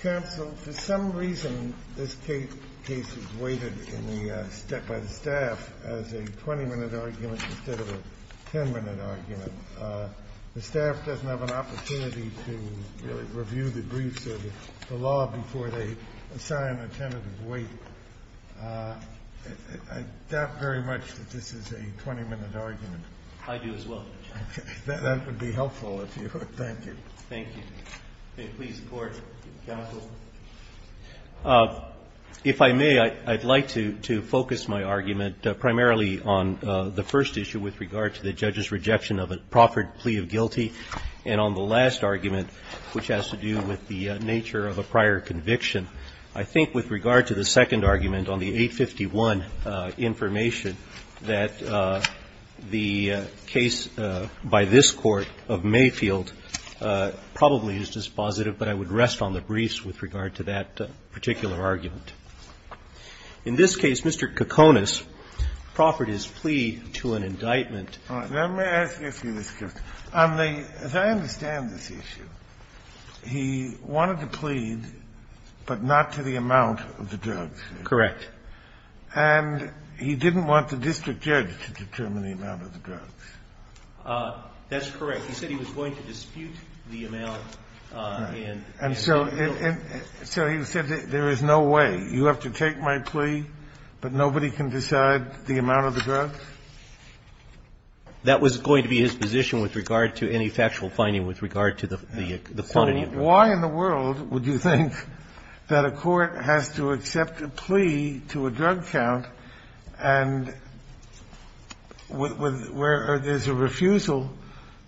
Council, for some reason this case is weighted by the staff as a 20-minute argument instead of a 10-minute argument. The staff doesn't have an opportunity to really review the briefs or the law before they assign a tentative weight. I doubt very much that this is a 20-minute argument. I do as well, Your Honor. That would be helpful if you would. Thank you. Thank you. May it please the Court, counsel? If I may, I'd like to focus my argument primarily on the first issue with regard to the judge's rejection of a proffered plea of guilty and on the last argument, which has to do with the nature of a prior conviction. I think with regard to the second argument on the 851 information, that the case by this Court of Mayfield probably is dispositive, but I would rest on the briefs with regard to that particular argument. In this case, Mr. Cokonis proffered his plea to an indictment. Let me ask you a few questions. On the as I understand this issue, he wanted to plead, but not to the amount of the drugs. Correct. And he didn't want the district judge to determine the amount of the drugs. That's correct. He said he was going to dispute the amount and so he said there is no way. You have to take my plea, but nobody can decide the amount of the drugs? That was going to be his position with regard to any factual finding with regard to the quantity of the drugs. So why in the world would you think that a court has to accept a plea to a drug count and where there's a refusal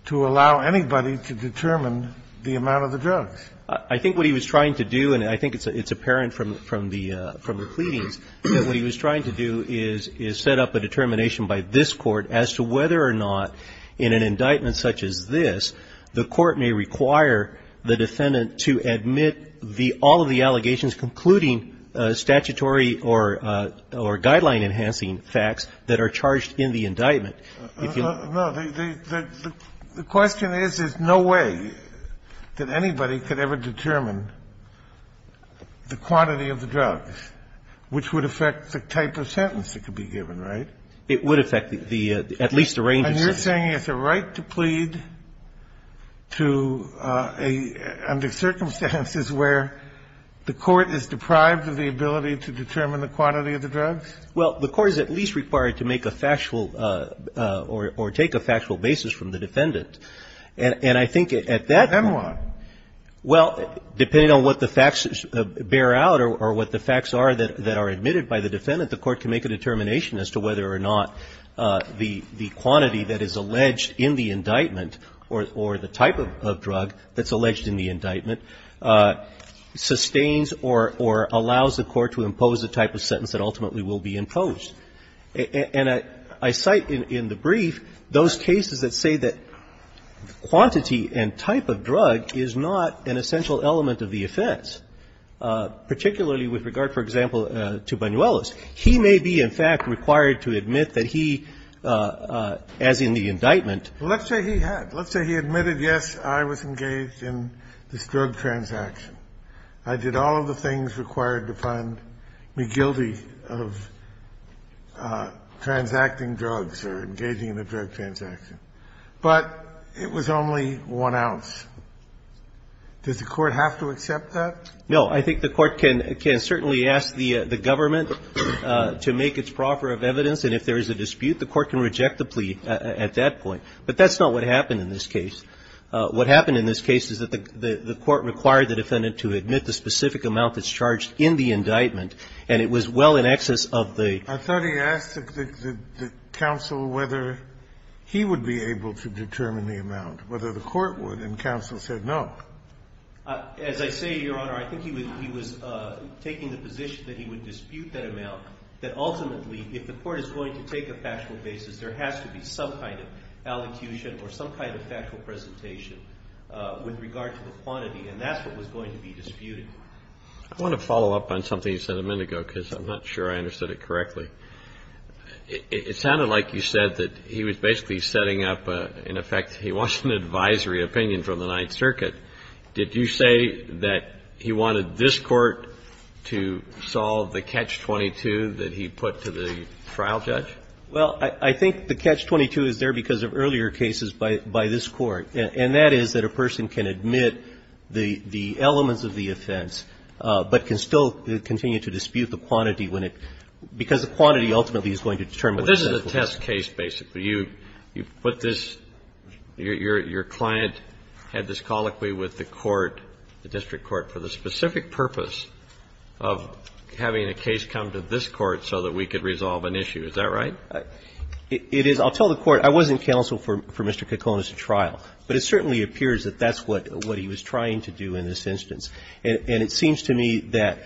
to allow anybody to determine the amount of the drugs? I think what he was trying to do, and I think it's apparent from the pleadings, that what he was trying to do is set up a determination by this Court as to whether or not in an indictment such as this the Court may require the defendant to admit the all of the allegations, concluding statutory or guideline enhancing facts that are charged in the indictment. No, the question is, there's no way that anybody could ever determine the quantity of the drugs, which would affect the type of sentence that could be given, right? It would affect the at least the range of sentences. And you're saying it's a right to plead to a under circumstances where the court is deprived of the ability to determine the quantity of the drugs? Well, the Court is at least required to make a factual or take a factual basis from the defendant. And I think at that point Then what? Well, depending on what the facts bear out or what the facts are that are admitted by the defendant, the Court can make a determination as to whether or not the quantity that is alleged in the indictment or the type of drug that's alleged in the indictment sustains or allows the Court to impose the type of sentence that ultimately will be imposed. And I cite in the brief those cases that say that quantity and type of drug is not an essential element of the offense, particularly with regard, for example, to Banuelos. He may be, in fact, required to admit that he, as in the indictment Well, let's say he had. Let's say he admitted, yes, I was engaged in this drug transaction. I did all of the things required to find me guilty of transacting drugs or engaging in a drug transaction. But it was only one ounce. Does the Court have to accept that? No. I think the Court can certainly ask the government to make its proffer of evidence. And if there is a dispute, the Court can reject the plea at that point. But that's not what happened in this case. What happened in this case is that the Court required the defendant to admit the specific amount that's charged in the indictment, and it was well in excess of the I thought he asked the counsel whether he would be able to determine the amount, whether the Court would. And counsel said no. As I say, Your Honor, I think he was taking the position that he would dispute that amount, that ultimately, if the Court is going to take a factual basis, there has to be some kind of allocution or some kind of factual presentation with regard to the quantity. And that's what was going to be disputed. I want to follow up on something you said a minute ago, because I'm not sure I understood it correctly. It sounded like you said that he was basically setting up, in effect, he wants an advisory opinion from the Ninth Circuit. Did you say that he wanted this Court to solve the catch-22 that he put to the trial judge? Well, I think the catch-22 is there because of earlier cases by this Court, and that is that a person can admit the elements of the offense, but can still continue to dispute the quantity when it – because the quantity ultimately is going to determine what the consequence is. But this is a test case, basically. You put this – your client had this colloquy with the Court, the district court, for the specific purpose of having a case come to this Court so that we could resolve an issue. Is that right? It is. I'll tell the Court, I wasn't counsel for Mr. Kekone's trial, but it certainly appears that that's what he was trying to do in this instance. And it seems to me that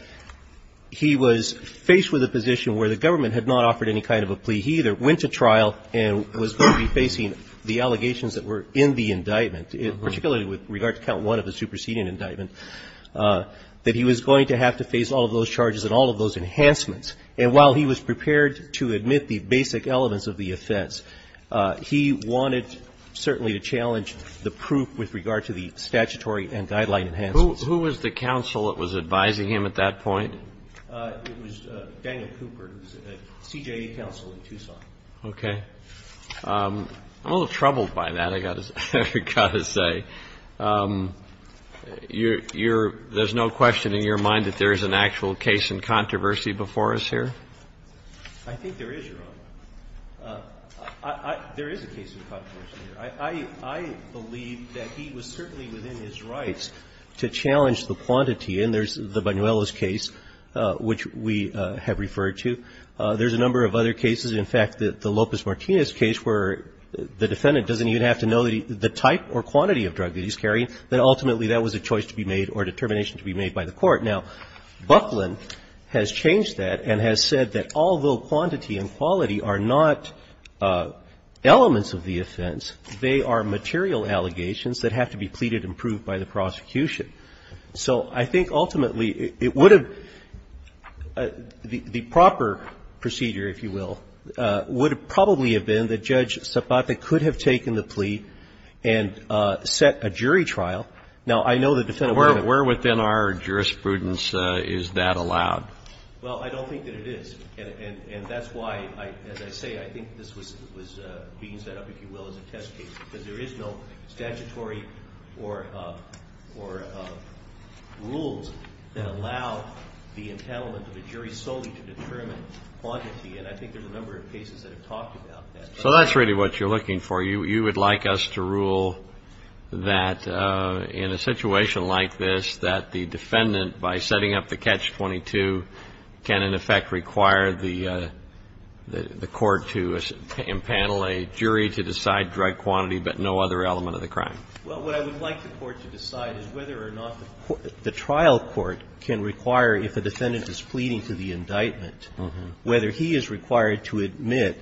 he was faced with a position where the government had not offered any kind of a plea. He either went to trial and was going to be facing the allegations that were in the indictment, particularly with regard to count one of the superseding indictment, that he was going to have to face all of those charges and all of those enhancements. And while he was prepared to admit the basic elements of the offense, he wanted certainly to challenge the proof with regard to the statutory and guideline enhancements. Who was the counsel that was advising him at that point? It was Daniel Cooper, who was a CJA counsel in Tucson. Okay. I'm a little troubled by that, I've got to say. You're – there's no question in your mind that there is an actual case in controversy before us here? I think there is, Your Honor. There is a case in controversy here. I believe that he was certainly within his rights to challenge the quantity. And there's the Buñuelos case, which we have referred to. There's a number of other cases. In fact, the Lopez-Martinez case, where the defendant doesn't even have to know the type or quantity of drug that he's carrying, that ultimately that was a choice to be made or a determination to be made by the court. Now, Buckland has changed that and has said that although quantity and quality are not elements of the offense, they are material allegations that have to be pleaded and proved by the prosecution. So I think ultimately it would have – the proper procedure, if you will, would have probably have been that Judge Zapata could have taken the plea and set a jury trial. Now, I know the defendant wouldn't have been able to do that. Where within our jurisprudence is that allowed? Well, I don't think that it is. And that's why, as I say, I think this was being set up, if you will, as a test case, because there is no statutory or rules that allow the entitlement of a jury solely to determine quantity. And I think there's a number of cases that have talked about that. So that's really what you're looking for. You would like us to rule that in a situation like this, that the defendant, by setting up the catch-22, can in effect require the court to impanel a jury to decide drug quantity, but no other element of the crime? Well, what I would like the court to decide is whether or not the trial court can require, if a defendant is pleading to the indictment, whether he is required to admit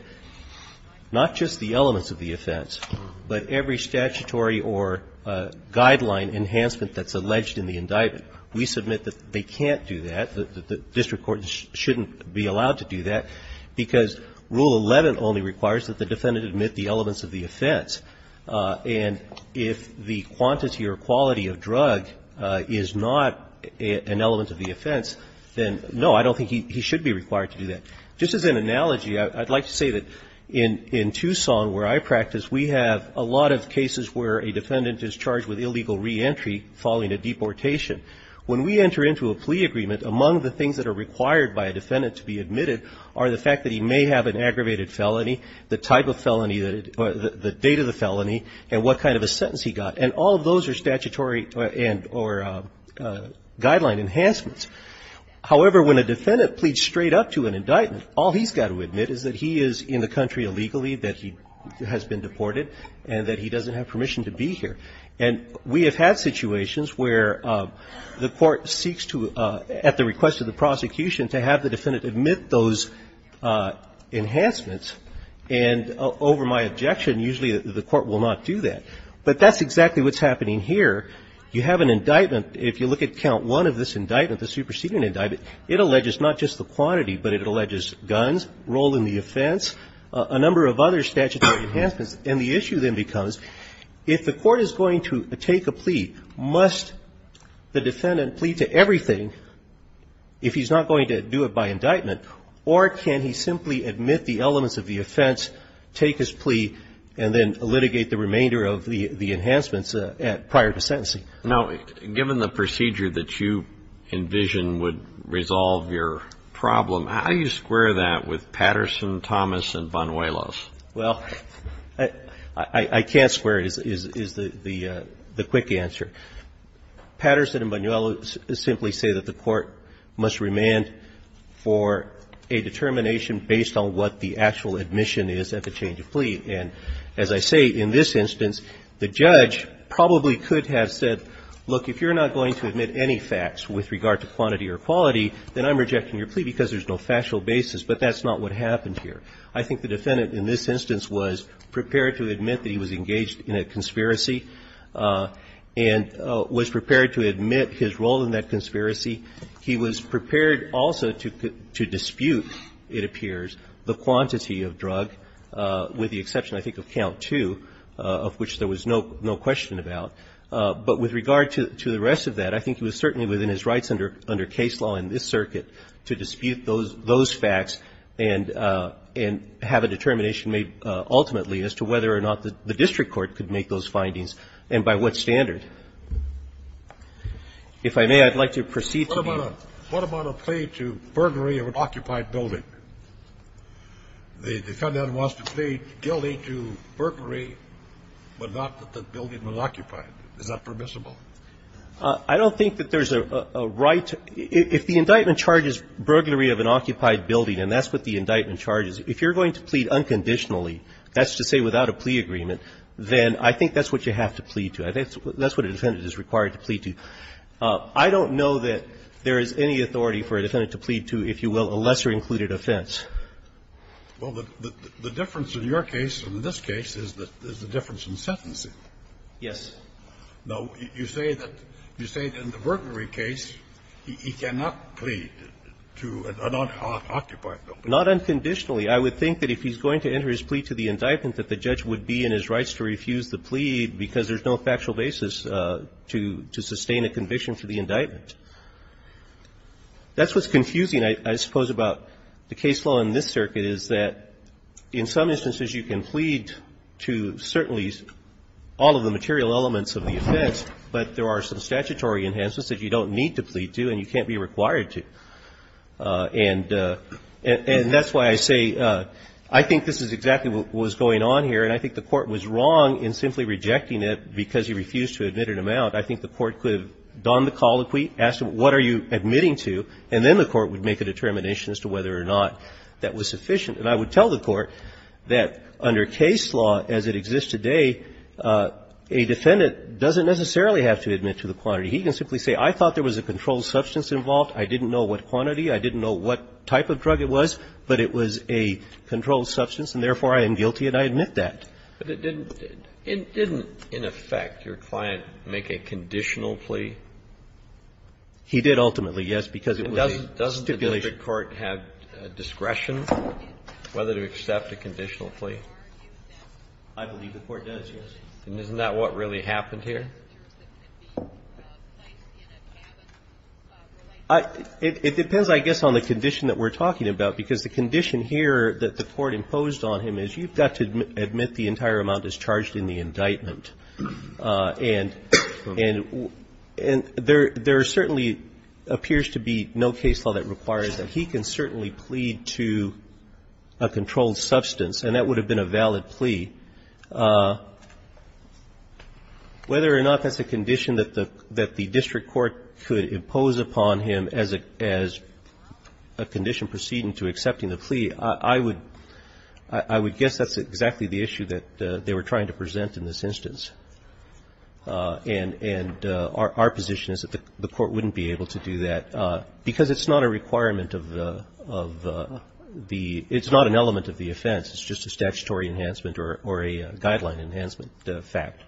not just the elements of the offense, but every statutory or guideline enhancement that's alleged in the indictment. We submit that they can't do that, that the district court shouldn't be allowed to do that, because Rule 11 only requires that the defendant admit the elements of the offense. And if the quantity or quality of drug is not an element of the offense, then, no, I don't think he should be required to do that. Just as an analogy, I'd like to say that in Tucson, where I practice, we have a lot of cases where a defendant is charged with illegal reentry following a deportation. When we enter into a plea agreement, among the things that are required by a defendant to be admitted are the fact that he may have an aggravated felony, the type of felony that it or the date of the felony, and what kind of a sentence he got. And all of those are statutory and or guideline enhancements. However, when a defendant pleads straight up to an indictment, all he's got to admit is that he is in the country illegally, that he has been deported, and that he doesn't have permission to be here. And we have had situations where the court seeks to, at the request of the prosecution, to have the defendant admit those enhancements. And over my objection, usually the court will not do that. But that's exactly what's happening here. You have an indictment. If you look at count one of this indictment, the superseding indictment, it alleges not just the quantity, but it alleges guns, role in the offense, a number of other statutory enhancements. And the issue then becomes, if the court is going to take a plea, must the defendant plead to everything if he's not going to do it by indictment? Or can he simply admit the elements of the offense, take his plea, and then litigate the remainder of the enhancements prior to sentencing? Now, given the procedure that you envision would resolve your problem, how do you square that with Patterson, Thomas, and Banuelos? Well, I can't square it, is the quick answer. Patterson and Banuelos simply say that the court must remand for a determination based on what the actual admission is at the change of plea. And as I say, in this instance, the judge probably could have said, look, if you're not going to admit any facts with regard to quantity or quality, then I'm rejecting your plea because there's no factual basis. But that's not what happened here. I think the defendant in this instance was prepared to admit that he was engaged in a conspiracy and was prepared to admit his role in that conspiracy. He was prepared also to dispute, it appears, the quantity of drug, with the exception, I think, of count two, of which there was no question about. But with regard to the rest of that, I think he was certainly within his rights under case law in this circuit to dispute those facts and have a determination made ultimately as to whether or not the district court could make those findings and by what standard. If I may, I'd like to proceed to the other. What about a plea to burglary of an occupied building? The defendant wants to plead guilty to burglary, but not that the building was occupied. Is that permissible? I don't think that there's a right to – if the indictment charges burglary of an occupied building, and that's what the indictment charges, if you're going to plead unconditionally, that's to say without a plea agreement, then I think that's what you have to plead to. That's what a defendant is required to plead to. I don't know that there is any authority for a defendant to plead to, if you will, a lesser included offense. Well, the difference in your case and in this case is the difference in sentencing. Yes. Now, you say that in the burglary case, he cannot plead to an unoccupied building. Not unconditionally. I would think that if he's going to enter his plea to the indictment that the judge would be in his rights to refuse the plea because there's no factual basis to sustain a conviction for the indictment. That's what's confusing, I suppose, about the case law in this circuit is that in some cases there are some material elements of the offense, but there are some statutory enhancements that you don't need to plead to and you can't be required to. And that's why I say I think this is exactly what was going on here, and I think the Court was wrong in simply rejecting it because he refused to admit an amount. I think the Court could have done the colloquy, asked him what are you admitting to, and then the Court would make a determination as to whether or not that was sufficient. And I would tell the Court that under case law as it exists today, a defendant doesn't necessarily have to admit to the quantity. He can simply say I thought there was a controlled substance involved. I didn't know what quantity. I didn't know what type of drug it was, but it was a controlled substance and, therefore, I am guilty and I admit that. But it didn't in effect your client make a conditional plea? He did ultimately, yes, because it was a stipulation. Does the standard court have discretion whether to accept a conditional plea? I believe the Court does, yes. And isn't that what really happened here? It depends, I guess, on the condition that we're talking about because the condition here that the Court imposed on him is you've got to admit the entire amount as charged in the indictment. And there certainly appears to be no case law that requires that. He can certainly plead to a controlled substance, and that would have been a valid plea. Whether or not that's a condition that the district court could impose upon him as a condition proceeding to accepting the plea, I would guess that's exactly the issue that they were trying to present in this instance. And our position is that the Court wouldn't be able to do that because it's not a requirement of the – it's not an element of the offense. It's just a statutory enhancement or a guideline enhancement fact.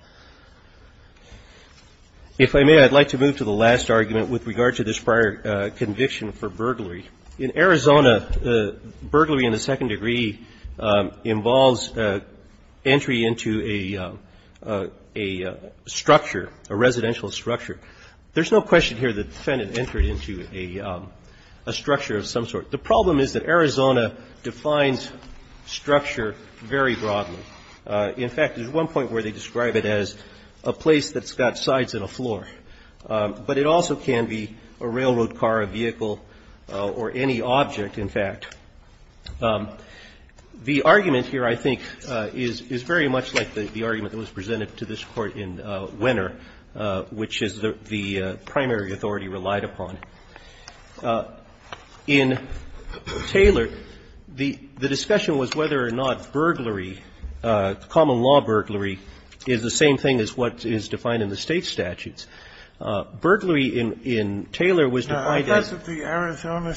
If I may, I'd like to move to the last argument with regard to this prior conviction for burglary. In Arizona, burglary in the second degree involves entry into a structure, a residential structure. There's no question here that the defendant entered into a structure of some sort. The problem is that Arizona defines structure very broadly. In fact, there's one point where they describe it as a place that's got sides and a floor. But it also can be a railroad car, a vehicle, or any object, in fact. The argument here, I think, is very much like the argument that was presented to this case. It's a case where a building can include a structure. And that's what the primary authority relied upon. In Taylor, the discussion was whether or not burglary, common law burglary, is the same thing as what is defined in the State statutes. Burglary in Taylor was defined as the – in Taylor, it was defined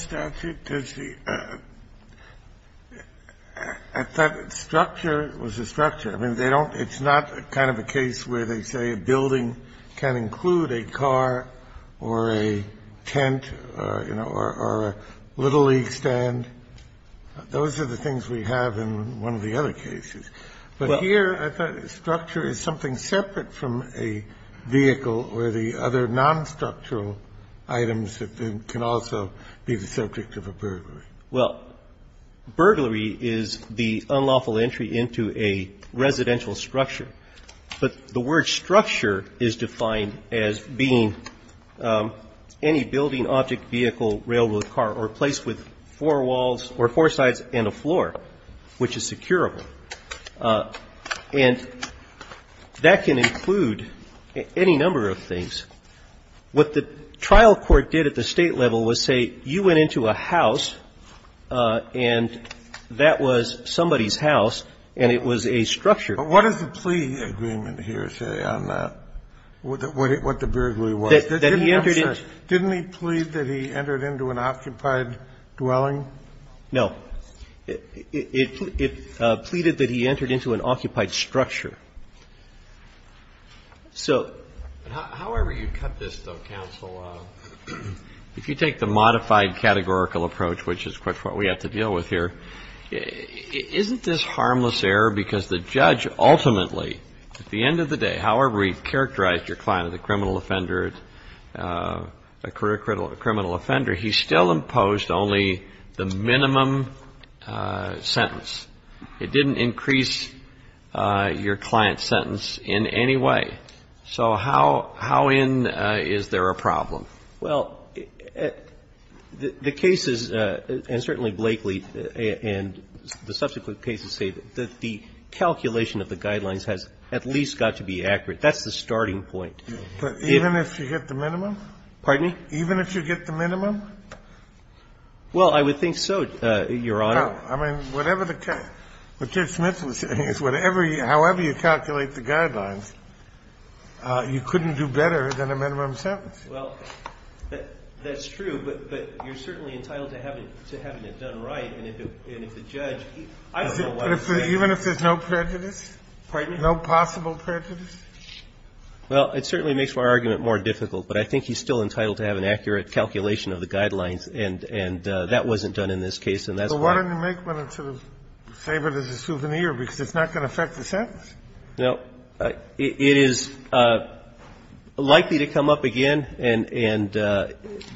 as a structure. It's not a vehicle. It's not a car or a tent, you know, or a little league stand. Those are the things we have in one of the other cases. But here, I thought structure is something separate from a vehicle or the other nonstructural items that can also be the subject of a burglary. Well, burglary is the unlawful entry into a residential structure. But the word structure is defined as being any building, object, vehicle, railroad car or place with four walls or four sides and a floor, which is securable. And that can include any number of things. What the trial court did at the State level was say, you went into a house and that was somebody's house and it was a structure. But what is the plea agreement here, say, on that, what the burglary was? That he entered into – Didn't he plead that he entered into an occupied dwelling? No. It pleaded that he entered into an occupied structure. So – However you cut this, though, counsel, if you take the modified categorical approach, which is what we have to deal with here, isn't this harmless error because the judge ultimately, at the end of the day, however he characterized your client as a criminal offender, a criminal offender, he still imposed only the minimum sentence. It didn't increase your client's sentence in any way. So how in is there a problem? Well, the cases, and certainly Blakely and the subsequent cases say that the calculation of the guidelines has at least got to be accurate. That's the starting point. But even if you get the minimum? Pardon me? Even if you get the minimum? Well, I would think so, Your Honor. I mean, whatever the – what Judge Smith was saying is whatever you – however you calculate the guidelines, you couldn't do better than a minimum sentence. Well, that's true, but you're certainly entitled to having it done right. And if the judge – Even if there's no prejudice? Pardon me? No possible prejudice? Well, it certainly makes my argument more difficult. But I think he's still entitled to have an accurate calculation of the guidelines, and that wasn't done in this case. So why don't you make one and sort of save it as a souvenir, because it's not going to affect the sentence? No. It is likely to come up again, and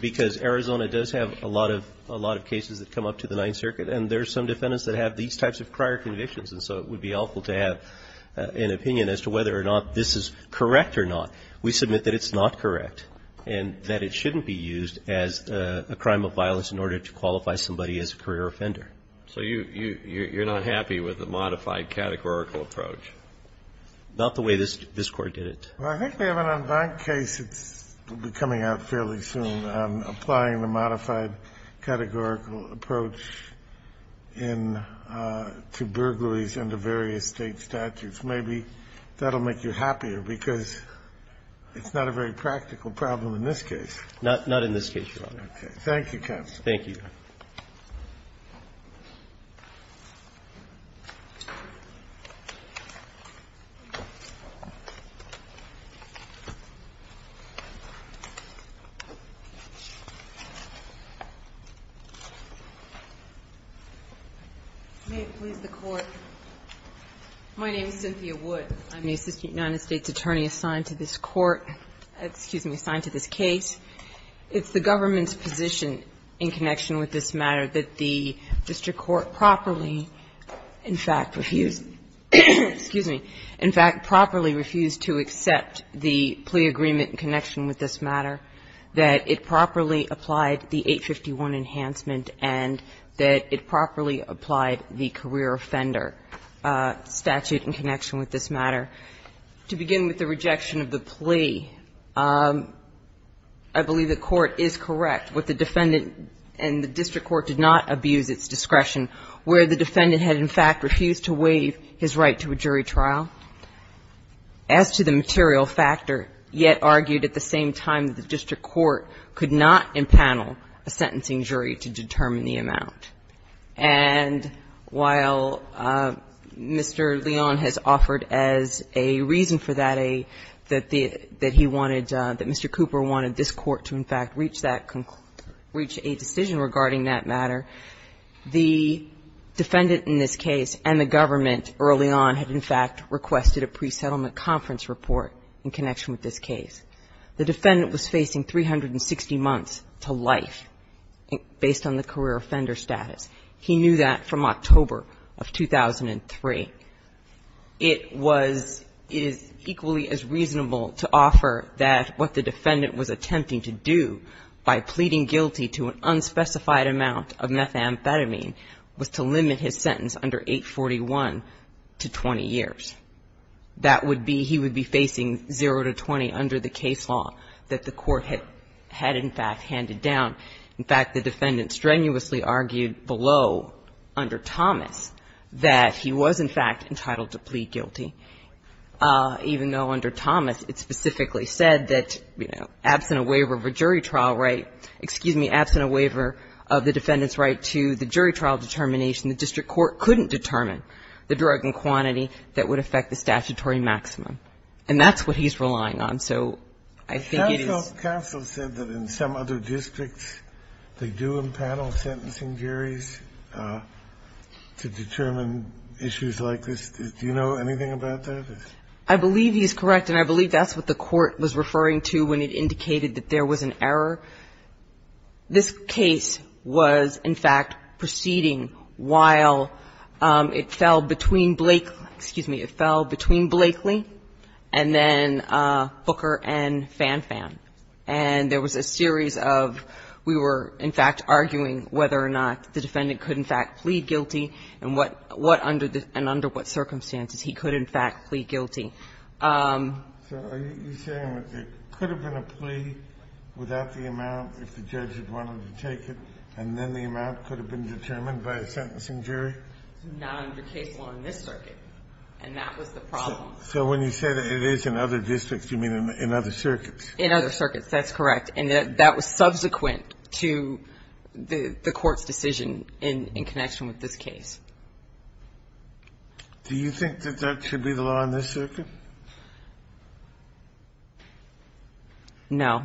because Arizona does have a lot of cases that come up to the Ninth Circuit, and there's some defendants that have these types of prior convictions, and so it would be helpful to have an opinion as to whether or not this is correct or not. We submit that it's not correct and that it shouldn't be used as a crime of violence in order to qualify somebody as a career offender. So you're not happy with the modified categorical approach? Not the way this Court did it. Well, I think we have an unbanked case that will be coming out fairly soon on applying the modified categorical approach in – to burglaries under various State statutes. Maybe that will make you happier, because it's not a very practical problem in this case. Not in this case, Your Honor. Thank you, counsel. Thank you. May it please the Court. My name is Cynthia Wood. I'm the Assistant United States Attorney assigned to this Court – excuse me, assigned to this case. It's the government's position in connection with this matter that the district court properly, in fact, refused – excuse me – in fact, properly refused to accept the plea agreement in connection with this matter, that it properly applied the 851 enhancement, and that it properly applied the career offender statute in connection with this matter. To begin with the rejection of the plea, I believe the Court is correct with the defendant, and the district court did not abuse its discretion, where the defendant had, in fact, refused to waive his right to a jury trial. As to the material factor, yet argued at the same time that the district court could not impanel a sentencing jury to determine the amount. And while Mr. Leon has offered as a reason for that a – that he wanted – that Mr. Cooper wanted this Court to, in fact, reach that – reach a decision regarding that matter, the defendant in this case and the government early on had, in fact, requested a pre-settlement conference report in connection with this case. The defendant was facing 360 months to life based on the career offender status. He knew that from October of 2003. It was – it is equally as reasonable to offer that what the defendant was attempting to do by pleading guilty to an unspecified amount of methamphetamine was to limit his sentence under 841 to 20 years. That would be – he would be facing zero to 20 under the case law that the court had – had, in fact, handed down. In fact, the defendant strenuously argued below under Thomas that he was, in fact, entitled to plead guilty, even though under Thomas it specifically said that, you know, absent a waiver of a jury trial right – excuse me, absent a waiver of the defendant's right to the jury trial determination, the district court couldn't determine the drug in quantity that would affect the statutory maximum. And that's what he's relying on. So I think it is – Kennedy, counsel said that in some other districts they do impanel sentencing juries to determine issues like this. Do you know anything about that? I believe he's correct, and I believe that's what the court was referring to when it indicated that there was an error. This case was, in fact, proceeding while it fell between Blakely – excuse me, it fell between Blakely and then Booker and Fanfan. And there was a series of – we were, in fact, arguing whether or not the defendant could, in fact, plead guilty and what – what under the – and under what circumstances he could, in fact, plead guilty. So are you saying it could have been a plea without the amount if the judge had wanted to take it, and then the amount could have been determined by a sentencing jury? Not under case law in this circuit, and that was the problem. So when you say that it is in other districts, you mean in other circuits? In other circuits, that's correct. And that was subsequent to the court's decision in connection with this case. Do you think that that should be the law in this circuit? No.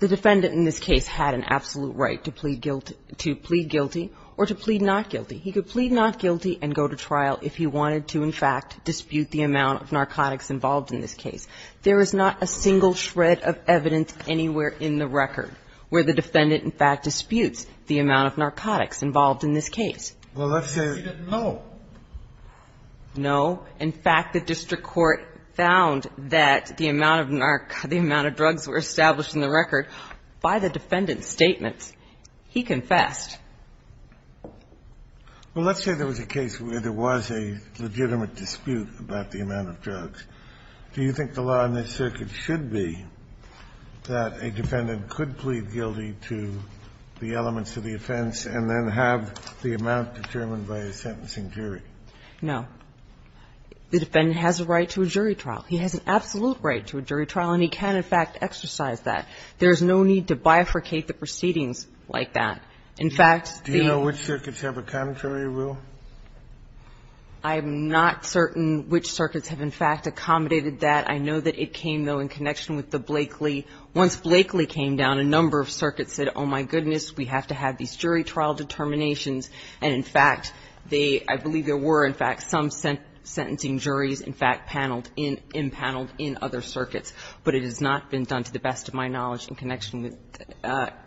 The defendant in this case had an absolute right to plead guilty – to plead guilty or to plead not guilty. He could plead not guilty and go to trial if he wanted to, in fact, dispute the amount of narcotics involved in this case. There is not a single shred of evidence anywhere in the record where the defendant, in fact, disputes the amount of narcotics involved in this case. Well, let's say – Because he didn't know. No. In fact, the district court found that the amount of narc – the amount of drugs were established in the record by the defendant's statements. He confessed. Well, let's say there was a case where there was a legitimate dispute about the amount of drugs. Do you think the law in this circuit should be that a defendant could plead guilty to the elements of the offense and then have the amount determined by a sentencing jury? No. The defendant has a right to a jury trial. He has an absolute right to a jury trial, and he can, in fact, exercise that. There is no need to bifurcate the proceedings like that. In fact, the – Do you know which circuits have a contrary rule? I'm not certain which circuits have, in fact, accommodated that. I know that it came, though, in connection with the Blakeley. Once Blakeley came down, a number of circuits said, oh, my goodness, we have to have these jury trial determinations, and in fact, they – I believe there were, in fact, some sentencing juries, in fact, paneled in – impaneled in other circuits. But it has not been done, to the best of my knowledge, in connection with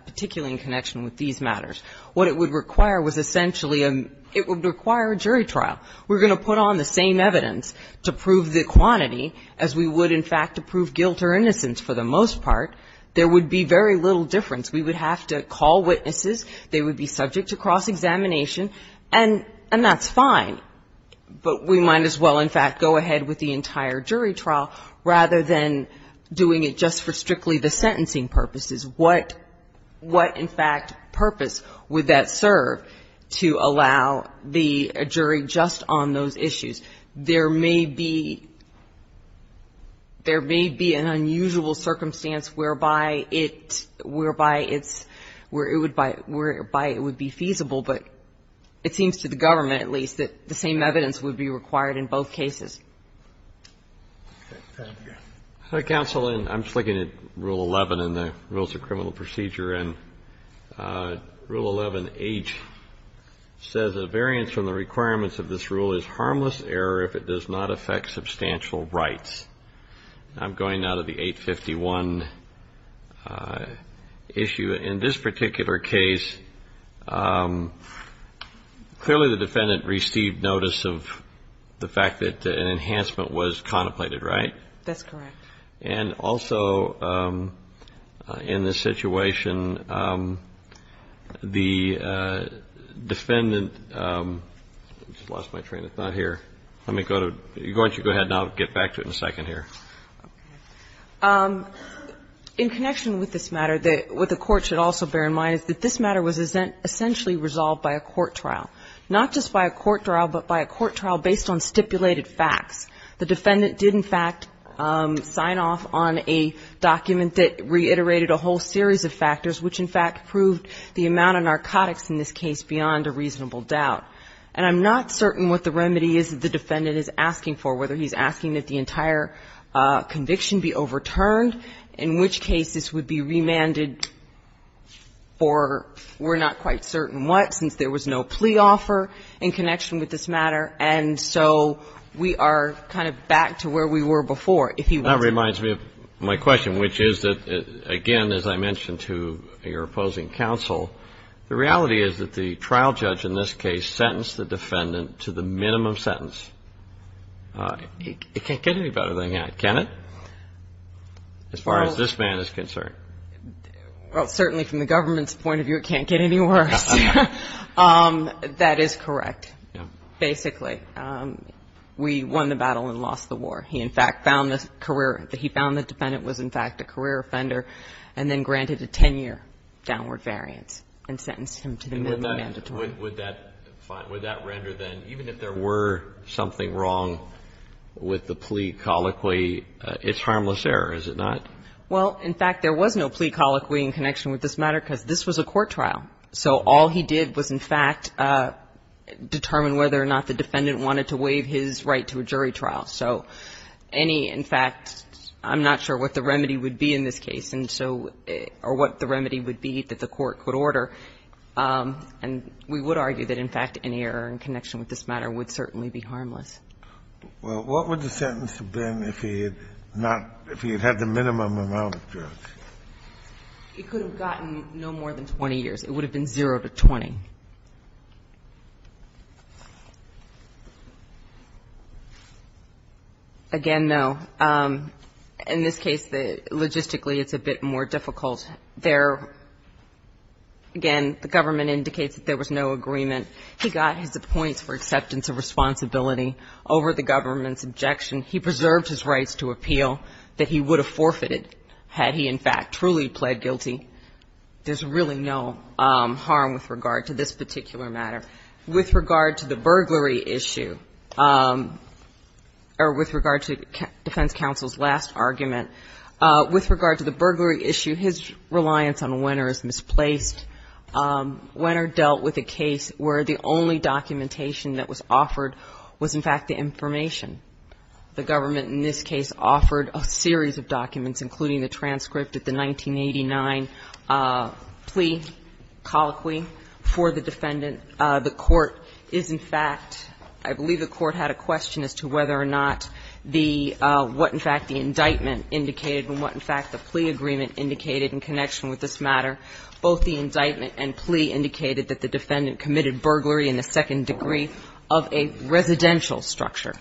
– particularly in connection with these matters. What it would require was essentially a – it would require a jury trial. We're going to put on the same evidence to prove the quantity as we would, in fact, to prove guilt or innocence for the most part. There would be very little difference. We would have to call witnesses. They would be subject to cross-examination. And that's fine, but we might as well, in fact, go ahead with the entire jury trial rather than doing it just for strictly the sentencing purposes. What, in fact, purpose would that serve to allow the jury just on those issues? There may be – there may be an unusual circumstance whereby it's – whereby it's – whereby it would be feasible, but it seems to the government, at least, that the same evidence would be required in both cases. Thank you. Counsel, I'm just looking at Rule 11 in the Rules of Criminal Procedure. And Rule 11H says a variance from the requirements of this rule is harmless error if it does not affect substantial rights. I'm going now to the 851 issue. In this particular case, clearly the defendant received notice of the fact that an enhancement was contemplated, right? That's correct. And also in this situation, the defendant – I just lost my train of thought here. Let me go to – why don't you go ahead and I'll get back to it in a second here. Okay. In connection with this matter, what the Court should also bear in mind is that this matter was essentially resolved by a court trial. Not just by a court trial, but by a court trial based on stipulated facts. The defendant did, in fact, sign off on a document that reiterated a whole series of factors, which, in fact, proved the amount of narcotics in this case beyond a reasonable doubt. And I'm not certain what the remedy is that the defendant is asking for, whether he's asking that the entire conviction be overturned, in which case this would be remanded for we're not quite certain what, since there was no plea offer in connection with this matter. And so we are kind of back to where we were before, if you will. That reminds me of my question, which is that, again, as I mentioned to your opposing counsel, the reality is that the trial judge in this case sentenced the defendant to the minimum sentence. It can't get any better than that, can it, as far as this man is concerned? Well, certainly from the government's point of view, it can't get any worse. That is correct, basically. We won the battle and lost the war. He, in fact, found the career he found the defendant was, in fact, a career offender and then granted a 10-year downward variance and sentenced him to the minimum mandatory. Would that render then, even if there were something wrong with the plea colloquy, it's harmless error, is it not? Well, in fact, there was no plea colloquy in connection with this matter because this was a court trial. So all he did was, in fact, determine whether or not the defendant wanted to waive his right to a jury trial. So any, in fact, I'm not sure what the remedy would be in this case and so or what the remedy would be that the court could order. And we would argue that, in fact, any error in connection with this matter would certainly be harmless. Well, what would the sentence have been if he had not, if he had had the minimum amount of drugs? It could have gotten no more than 20 years. It would have been 0 to 20. Again, no. In this case, logistically, it's a bit more difficult. There, again, the government indicates that there was no agreement. He got his points for acceptance of responsibility over the government's objection. He preserved his rights to appeal that he would have forfeited had he, in fact, truly pled guilty. There's really no harm with regard to this particular matter. With regard to the burglary issue or with regard to defense counsel's last argument, with regard to the burglary issue, his reliance on Wenner is misplaced. Wenner dealt with a case where the only documentation that was offered was, in fact, the information. The government in this case offered a series of documents, including the transcript of the 1989 plea colloquy for the defendant. The Court is, in fact, I believe the Court had a question as to whether or not the what, in fact, the indictment indicated and what, in fact, the plea agreement indicated in connection with this matter. Both the indictment and plea indicated that the defendant committed burglary in the first degree and the second degree of a residential structure.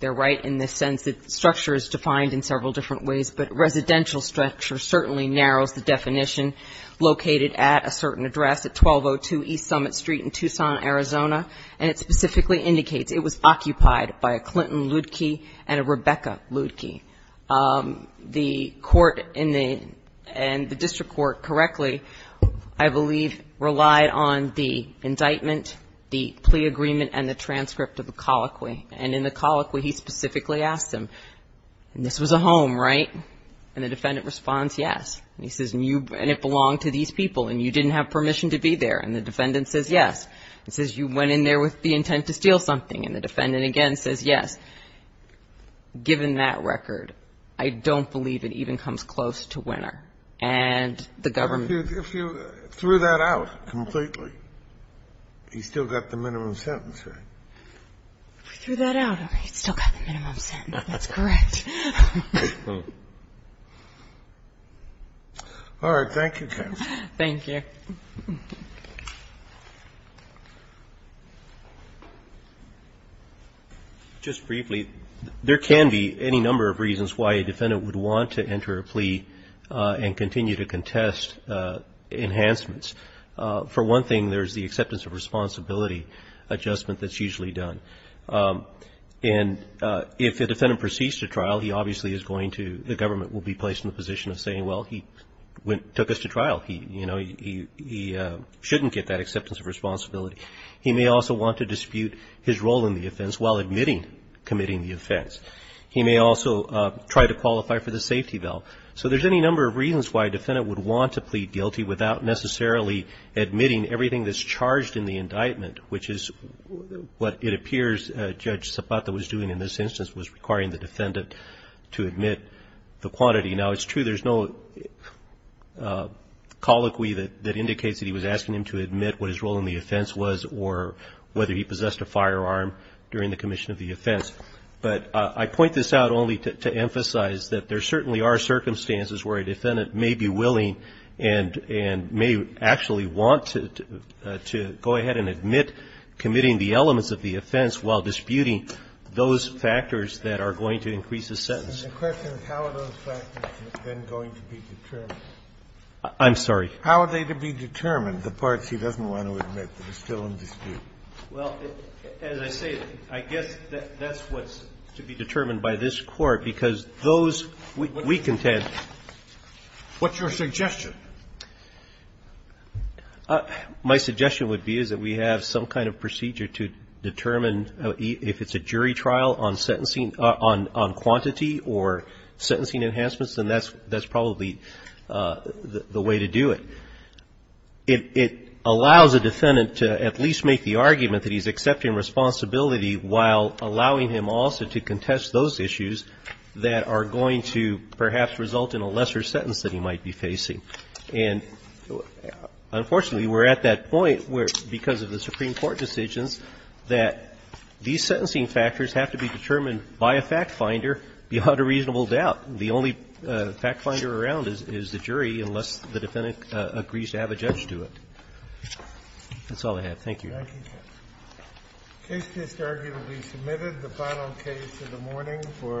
They're right in the sense that structure is defined in several different ways, but residential structure certainly narrows the definition located at a certain address at 1202 East Summit Street in Tucson, Arizona. And it specifically indicates it was occupied by a Clinton Ludeke and a Rebecca Ludeke. The District Court correctly, I believe, relied on the indictment, the plea agreement, and the transcript of the colloquy. And in the colloquy, he specifically asked them, this was a home, right? And the defendant responds, yes. And he says, and it belonged to these people, and you didn't have permission to be there. And the defendant says, yes. He says, you went in there with the intent to steal something. And the defendant again says, yes. Given that record, I don't believe it even comes close to winner. And the government ---- If you threw that out completely, he still got the minimum sentence, right? If we threw that out, he still got the minimum sentence. That's correct. All right. Thank you, counsel. Thank you. Okay. Just briefly, there can be any number of reasons why a defendant would want to enter a plea and continue to contest enhancements. For one thing, there's the acceptance of responsibility adjustment that's usually done. And if a defendant proceeds to trial, he obviously is going to ---- the government will be placed in the position of saying, well, he took us to trial. He shouldn't get that acceptance of responsibility. He may also want to dispute his role in the offense while admitting committing the offense. He may also try to qualify for the safety bail. So there's any number of reasons why a defendant would want to plead guilty without necessarily admitting everything that's charged in the indictment, which is what it appears Judge Zapata was doing in this instance, was requiring the defendant to admit the quantity. Now, it's true there's no colloquy that indicates that he was asking him to admit what his role in the offense was or whether he possessed a firearm during the commission of the offense. But I point this out only to emphasize that there certainly are circumstances where a defendant may be willing and may actually want to go ahead and admit committing the elements of the offense while disputing those factors that are going to increase the sentence. The question is how are those factors then going to be determined? I'm sorry? How are they to be determined, the parts he doesn't want to admit that are still in dispute? Well, as I say, I guess that's what's to be determined by this Court, because those we contend ---- What's your suggestion? My suggestion would be is that we have some kind of procedure to determine if it's a jury trial on sentencing, on quantity or sentencing enhancements, then that's probably the way to do it. It allows a defendant to at least make the argument that he's accepting responsibility while allowing him also to contest those issues that are going to perhaps result in a lesser sentence that he might be facing. And unfortunately, we're at that point where, because of the Supreme Court decisions, that these sentencing factors have to be determined by a fact finder beyond a reasonable doubt. The only fact finder around is the jury, unless the defendant agrees to have a judge do it. That's all I have. Thank you. Thank you, Justice. The case is, arguably, submitted. The final case of the morning for ----